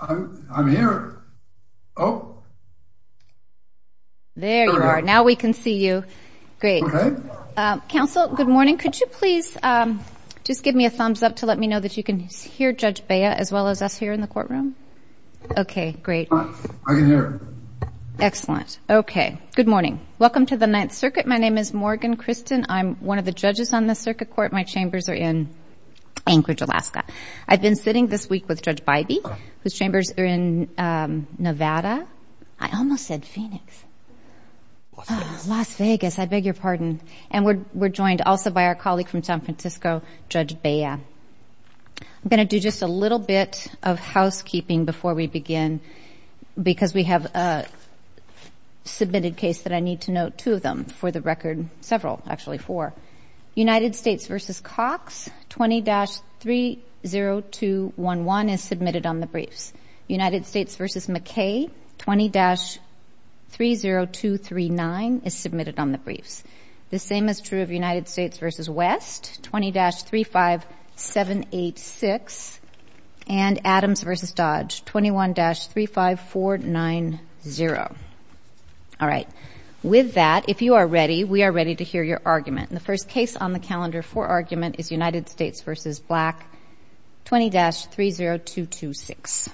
I'm here oh there you are now we can see you great counsel good morning could you please just give me a thumbs up to let me know that you can hear Judge Bea as well as us here in the courtroom okay great excellent okay good morning welcome to the Ninth Circuit my name is Morgan Kristen I'm one of the judges on the circuit court my chambers are in Anchorage Alaska I've been sitting this week with Judge Bybee whose chambers are in Nevada I almost said Phoenix Las Vegas I beg your pardon and we're joined also by our colleague from San Francisco Judge Bea I'm gonna do just a little bit of housekeeping before we begin because we have a submitted case that I need to note two of them for the record several actually four United States v. McKay 20-30239 is submitted on the briefs the same is true of United States v. West 20-35786 and Adams v. Dodge 21-35490 all right with that if you are ready we are ready to hear your argument in the first case on the 20-30226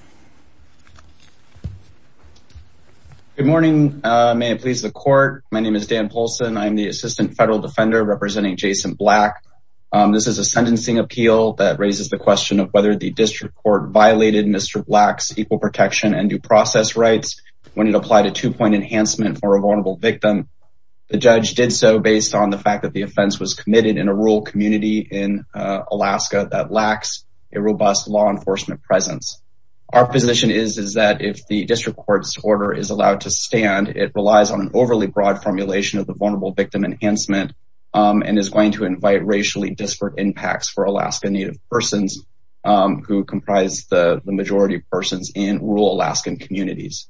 good morning may it please the court my name is Dan Polson I'm the assistant federal defender representing Jason black this is a sentencing appeal that raises the question of whether the district court violated mr. blacks equal protection and due process rights when it applied a two-point enhancement for a vulnerable victim the judge did so based on the fact that the offense was a robust law enforcement presence our position is is that if the district court's order is allowed to stand it relies on an overly broad formulation of the vulnerable victim enhancement and is going to invite racially disparate impacts for Alaska native persons who comprise the majority of persons in rural Alaskan communities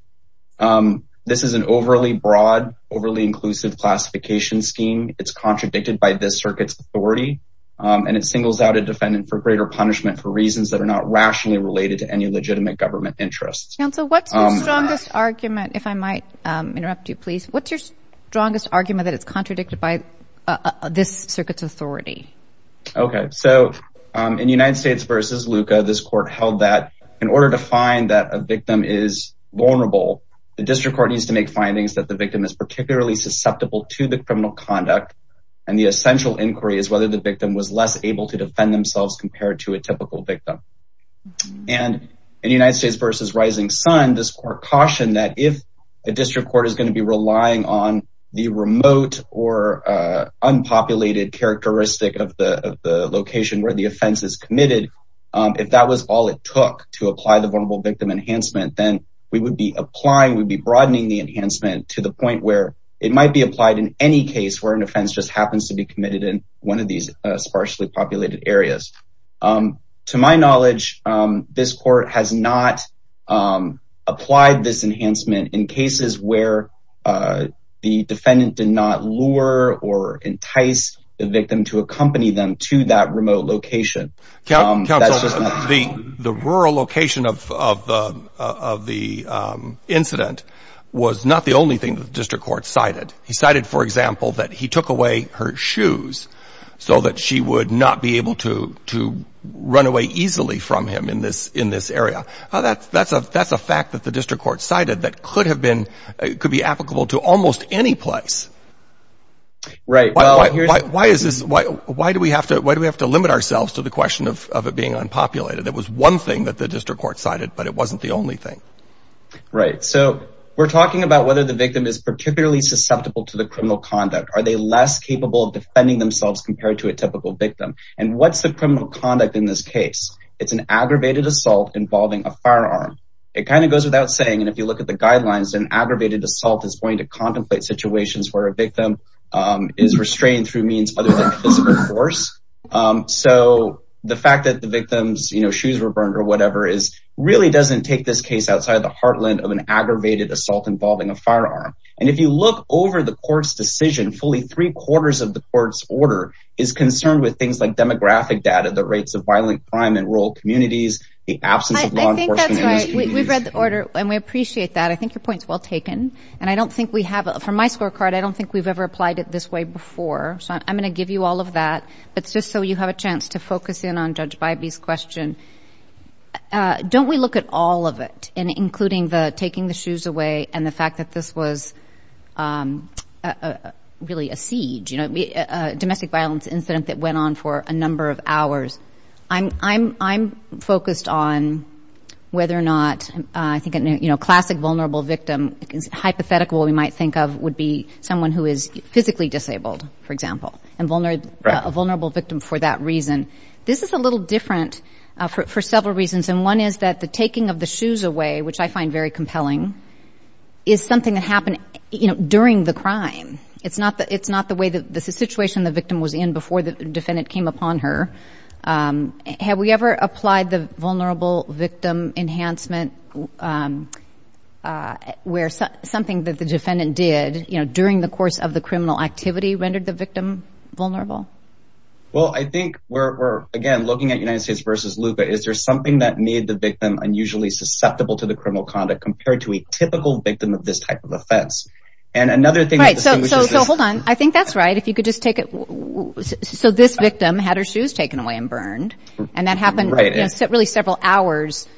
this is an overly broad overly inclusive classification scheme it's contradicted by this circuits authority and it singles out a defendant for greater punishment for reasons that are not rationally related to any legitimate government interests and so what's strongest argument if I might interrupt you please what's your strongest argument that it's contradicted by this circuits authority okay so in United States versus Luca this court held that in order to find that a victim is vulnerable the district court needs to make findings that the victim is particularly susceptible to the criminal conduct and the essential inquiry is whether the victim was less able to defend themselves compared to a typical victim and in United States versus Rising Sun this court caution that if a district court is going to be relying on the remote or unpopulated characteristic of the location where the offense is committed if that was all it took to apply the vulnerable victim enhancement then we would be applying would be broadening the enhancement to the point where it might be applied in any case where an offense just happens to be committed in one of these sparsely populated areas to my knowledge this court has not applied this enhancement in cases where the defendant did not lure or entice the victim to accompany them to that remote location the the rural location of the incident was not the only thing the district court cited he cited for example that he took away her shoes so that she would not be able to to run away easily from him in this in this area that's that's a that's a fact that the district court cited that could have been it could be applicable to almost any place right why is this why why do we have to why do we have to limit ourselves to the question of it being unpopulated that was one thing that the district court cited but it whether the victim is particularly susceptible to the criminal conduct are they less capable of defending themselves compared to a typical victim and what's the criminal conduct in this case it's an aggravated assault involving a firearm it kind of goes without saying and if you look at the guidelines an aggravated assault is going to contemplate situations where a victim is restrained through means other than physical force so the fact that the victims you know shoes were burned or whatever is really doesn't take this outside the heartland of an aggravated assault involving a firearm and if you look over the court's decision fully three-quarters of the court's order is concerned with things like demographic data the rates of violent crime and rural communities the absence of law enforcement we've read the order and we appreciate that I think your points well taken and I don't think we have from my scorecard I don't think we've ever applied it this way before so I'm gonna give you all of that but just so you have a chance to focus in on judge by these question don't we look at all of it and including the taking the shoes away and the fact that this was really a siege you know a domestic violence incident that went on for a number of hours I'm I'm I'm focused on whether or not I think you know classic vulnerable victim is hypothetical we might think of would be someone who is physically disabled for example and vulnerability victim for that reason this is a little different for several reasons and one is that the taking of the shoes away which I find very compelling is something that happened you know during the crime it's not that it's not the way that this is situation the victim was in before the defendant came upon her have we ever applied the vulnerable victim enhancement where something that the defendant did you know during the course of the criminal activity rendered the well I think we're again looking at United States versus Luca is there something that made the victim unusually susceptible to the criminal conduct compared to a typical victim of this type of offense and another thing right so hold on I think that's right if you could just take it so this victim had her shoes taken away and burned and that happened really several hours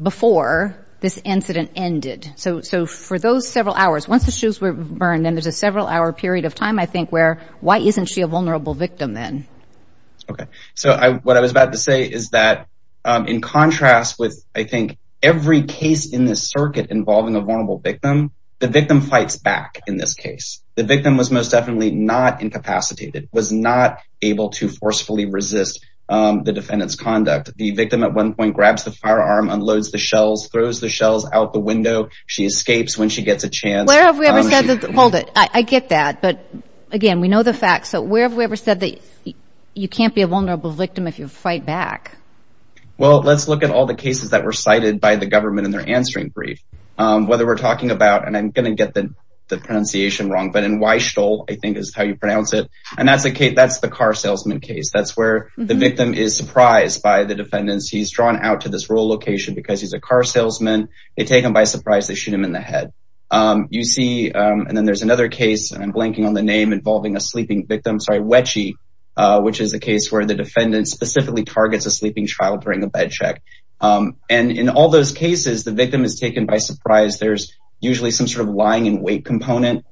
before this incident ended so so for those several hours once the shoes were burned and there's a several hour period of time I think where why isn't she a vulnerable victim then okay so I what I was about to say is that in contrast with I think every case in this circuit involving a vulnerable victim the victim fights back in this case the victim was most definitely not incapacitated was not able to forcefully resist the defendants conduct the victim at one point grabs the firearm unloads the shells throws the shells out the window she escapes when she gets a chance hold it I get that but again we know the fact so where have we ever said that you can't be a vulnerable victim if you fight back well let's look at all the cases that were cited by the government in their answering brief whether we're talking about and I'm gonna get the pronunciation wrong but in why stole I think is how you pronounce it and that's the case that's the car salesman case that's where the victim is surprised by the defendants he's drawn out to this rural location because he's a car salesman they take him by surprise they shoot him in the head you see and then there's another case and I'm blanking on the name involving a sleeping victim sorry wedgie which is a case where the defendant specifically targets a sleeping child during a bed check and in all those cases the victim is taken by surprise there's usually some sort of lying in wait component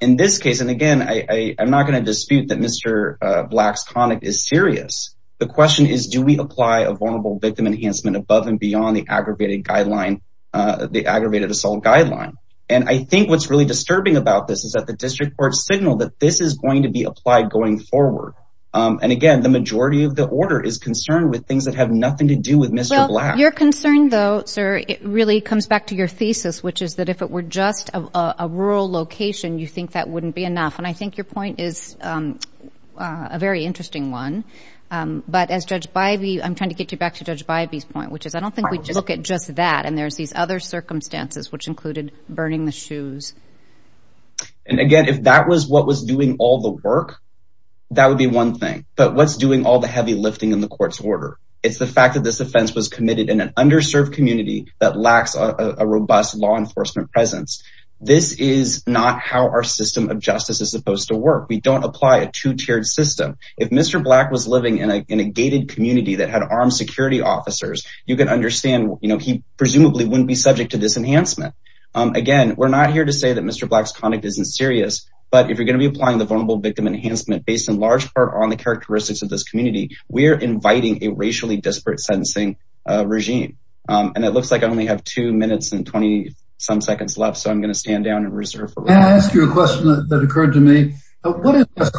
in this case and again I am NOT going to dispute that mr. blacks conic is serious the question is do we apply a vulnerable victim enhancement above and beyond the aggravated guideline the aggravated assault guideline and I think what's really disturbing about this is that the district court signal that this is going to be applied going forward and again the majority of the order is concerned with things that have nothing to do with mr. black you're concerned though sir it really comes back to your thesis which is that if it were just a rural location you think that wouldn't be enough and I think your point is a very interesting one but as judge by the I'm trying to get you back to judge by these point which is I don't think we look at just that and there's these other circumstances which included burning the shoes and again if that was what was doing all the work that would be one thing but what's doing all the heavy lifting in the court's order it's the fact that this offense was committed in an underserved community that lacks a robust law enforcement presence this is not how our system of justice is supposed to work we don't apply a two-tiered system if mr. black was living in a gated community that had armed security officers you can understand you know he presumably wouldn't be subject to this enhancement again we're not here to say that mr. black's conduct isn't serious but if you're going to be applying the vulnerable victim enhancement based in large part on the characteristics of this community we are inviting a racially disparate sentencing regime and it looks like I only have two minutes and 20 some seconds left so I'm going to stand down and reserve ask you a question that occurred to me what is the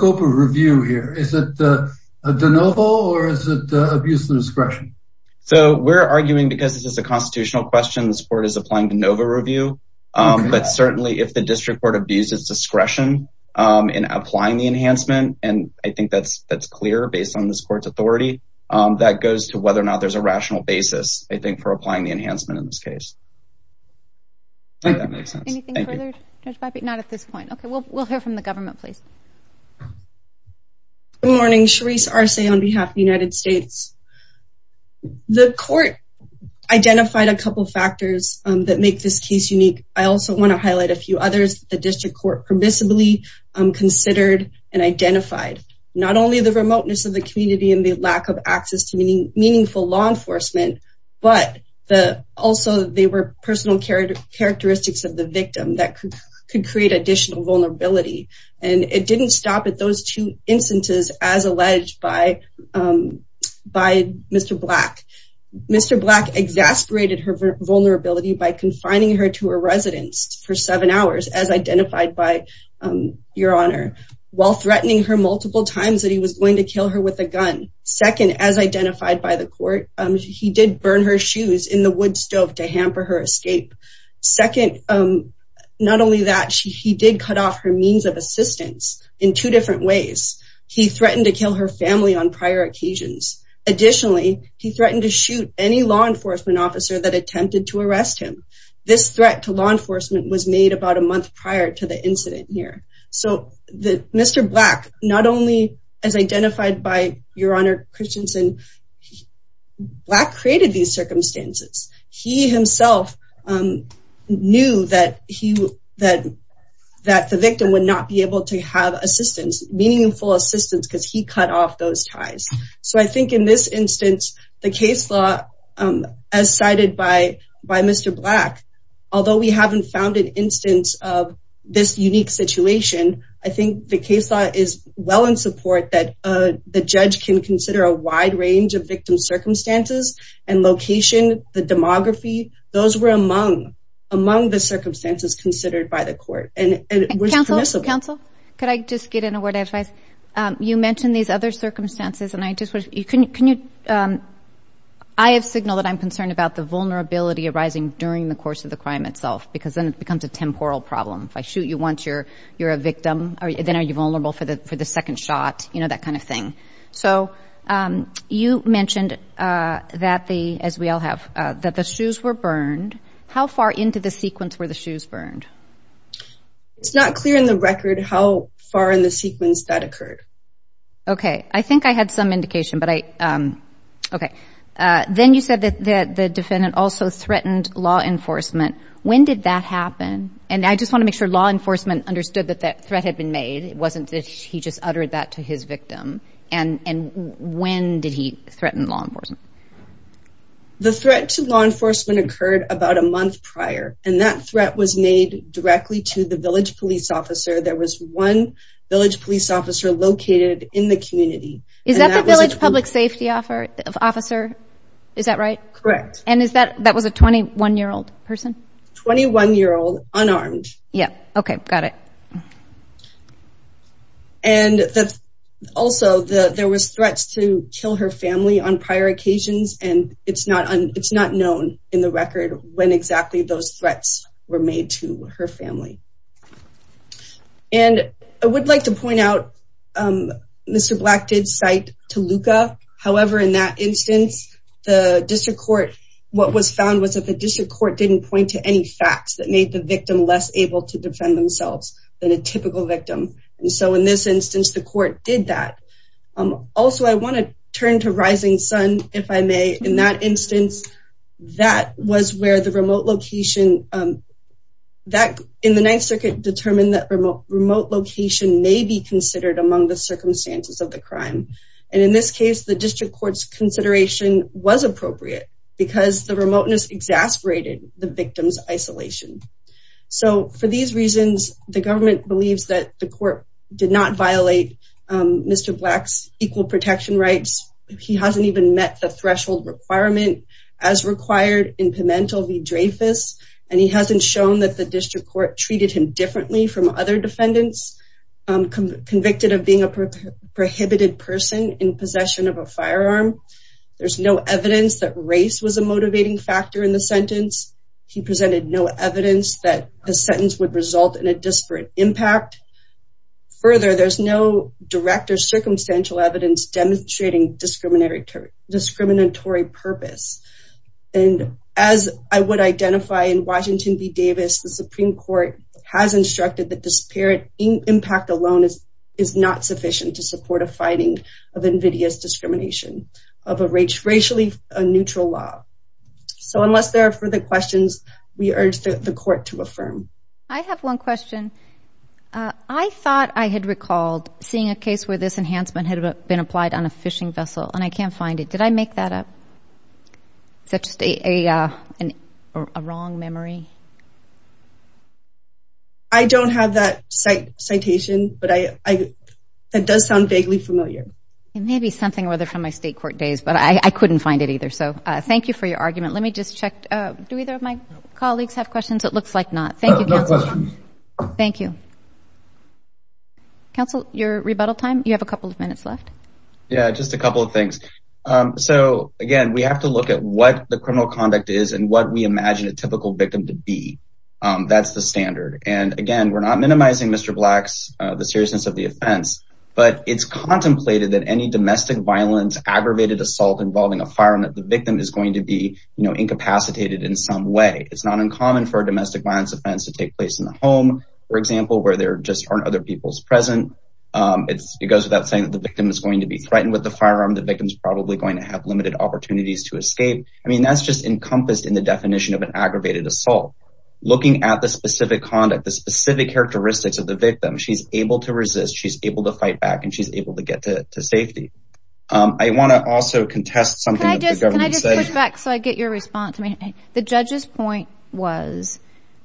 noble or is it the abuse of discretion so we're arguing because this is a constitutional question this board is applying to Nova review but certainly if the district court abuses discretion in applying the enhancement and I think that's that's clear based on this court's authority that goes to whether or not there's a rational basis I think for applying the enhancement in this case not at this point okay well we'll hear from the government please good morning Sharice Arce on behalf of the United States the court identified a couple factors that make this case unique I also want to highlight a few others the district court permissibly considered and identified not only the remoteness of the community and the lack of access to meaning meaningful law enforcement but the also they were personal character characteristics of the victim that could create additional vulnerability and it didn't stop at those two instances as alleged by by mr. black mr. black exasperated her vulnerability by confining her to a residence for seven hours as identified by your honor while threatening her multiple times that he was going to kill her with a gun second as identified by the court he did burn her shoes in the wood stove to hamper her escape second not only that she did cut off her means of assistance in two different ways he threatened to kill her family on prior occasions additionally he threatened to shoot any law enforcement officer that attempted to arrest him this threat to law enforcement was made about a month as identified by your honor Christiansen black created these circumstances he himself knew that he that that the victim would not be able to have assistance meaningful assistance because he cut off those ties so I think in this instance the case law as cited by by mr. black although we haven't found an I think the case is well in support that the judge can consider a wide range of victim circumstances and location the demography those were among among the circumstances considered by the court and counsel counsel could I just get in a word if I you mentioned these other circumstances and I just was you can you I have signal that I'm concerned about the vulnerability arising during the course of the crime itself because then it becomes a temporal problem if I shoot you once you're you're a victim are you then are you vulnerable for the for the second shot you know that kind of thing so you mentioned that the as we all have that the shoes were burned how far into the sequence where the shoes burned it's not clear in the record how far in the sequence that occurred okay I think I had some indication but I okay then you said that the defendant also threatened law enforcement when did that happen and I just want to make sure law enforcement understood that that threat had been made it wasn't that he just uttered that to his victim and and when did he threaten law enforcement the threat to law enforcement occurred about a month prior and that threat was made directly to the village police officer there was one village police officer located in the community is that village public safety offer of officer is that correct and is that that was a 21 year old person 21 year old unarmed yeah okay got it and that's also the there was threats to kill her family on prior occasions and it's not on it's not known in the record when exactly those threats were made to her family and I would like to point out mr. black did cite to Luca however in that instance the district court what was found was that the district court didn't point to any facts that made the victim less able to defend themselves than a typical victim and so in this instance the court did that also I want to turn to rising Sun if I may in that instance that was where the remote location that in the Ninth Circuit determined that remote location may be appropriate because the remoteness exasperated the victims isolation so for these reasons the government believes that the court did not violate mr. blacks equal protection rights he hasn't even met the threshold requirement as required in Pimentel v. Dreyfus and he hasn't shown that the district court treated him differently from other defendants convicted of being a prohibited person in possession of a firearm there's no evidence that race was a motivating factor in the sentence he presented no evidence that the sentence would result in a disparate impact further there's no direct or circumstantial evidence demonstrating discriminatory purpose and as I would identify in Washington v. Davis the Supreme Court has instructed that impact alone is not sufficient to support a fighting of invidious discrimination of a racially neutral law so unless there are further questions we urge the court to affirm I have one question I thought I had recalled seeing a case where this enhancement had been applied on a fishing vessel and I can't have that citation but I that does sound vaguely familiar maybe something whether from my state court days but I couldn't find it either so I thank you for your argument let me just check do either of my colleagues have questions it looks like not thank you thank you council your rebuttal time you have a couple of minutes left just a couple of things so again we have to look at what the criminal conduct is and what we minimizing mr. blacks the seriousness of the offense but it's contemplated that any domestic violence aggravated assault involving a firearm that the victim is going to be you know incapacitated in some way it's not uncommon for a domestic violence offense to take place in the home for example where there just aren't other people's present it's it goes without saying that the victim is going to be threatened with the firearm the victims probably going to have limited opportunities to escape I mean that's just encompassed in the definition of an aggravated assault looking at the specific conduct the specific characteristics of the victim she's able to resist she's able to fight back and she's able to get to safety I want to also contest something so I get your response I mean the judge's point was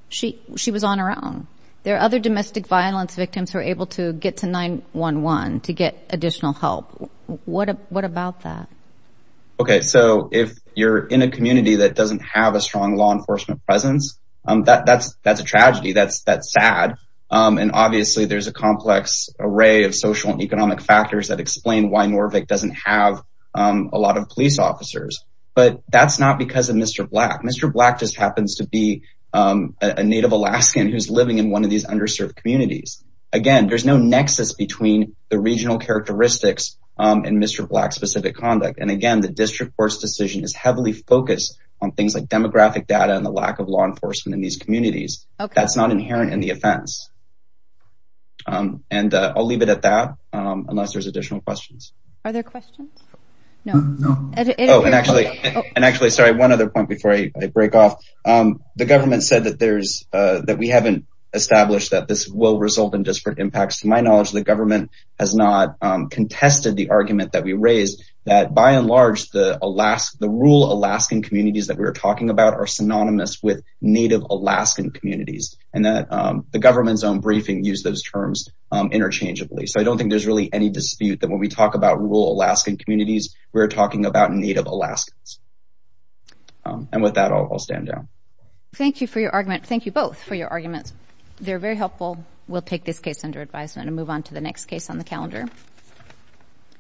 she she was on her own there are other domestic violence victims who are able to get to 9-1-1 to get additional help what what about that okay so if you're in a community that doesn't have a strong law enforcement presence that that's that's a tragedy that's that's sad and obviously there's a complex array of social and economic factors that explain why Norvig doesn't have a lot of police officers but that's not because of mr. black mr. black just happens to be a native Alaskan who's living in one of these underserved communities again there's no nexus between the regional characteristics and mr. black specific conduct and again the data and the lack of law enforcement in these communities that's not inherent in the offense and I'll leave it at that unless there's additional questions are there questions no and actually and actually sorry one other point before I break off the government said that there's that we haven't established that this will result in disparate impacts to my knowledge the government has not contested the argument that we raised that by and large the Alaska the rule Alaskan communities that we were talking about are synonymous with native Alaskan communities and that the government's own briefing use those terms interchangeably so I don't think there's really any dispute that when we talk about rural Alaskan communities we're talking about native Alaskans and with that I'll stand down thank you for your argument thank you both for your arguments they're very helpful we'll take this case under advisement and move on to the next case on the calendar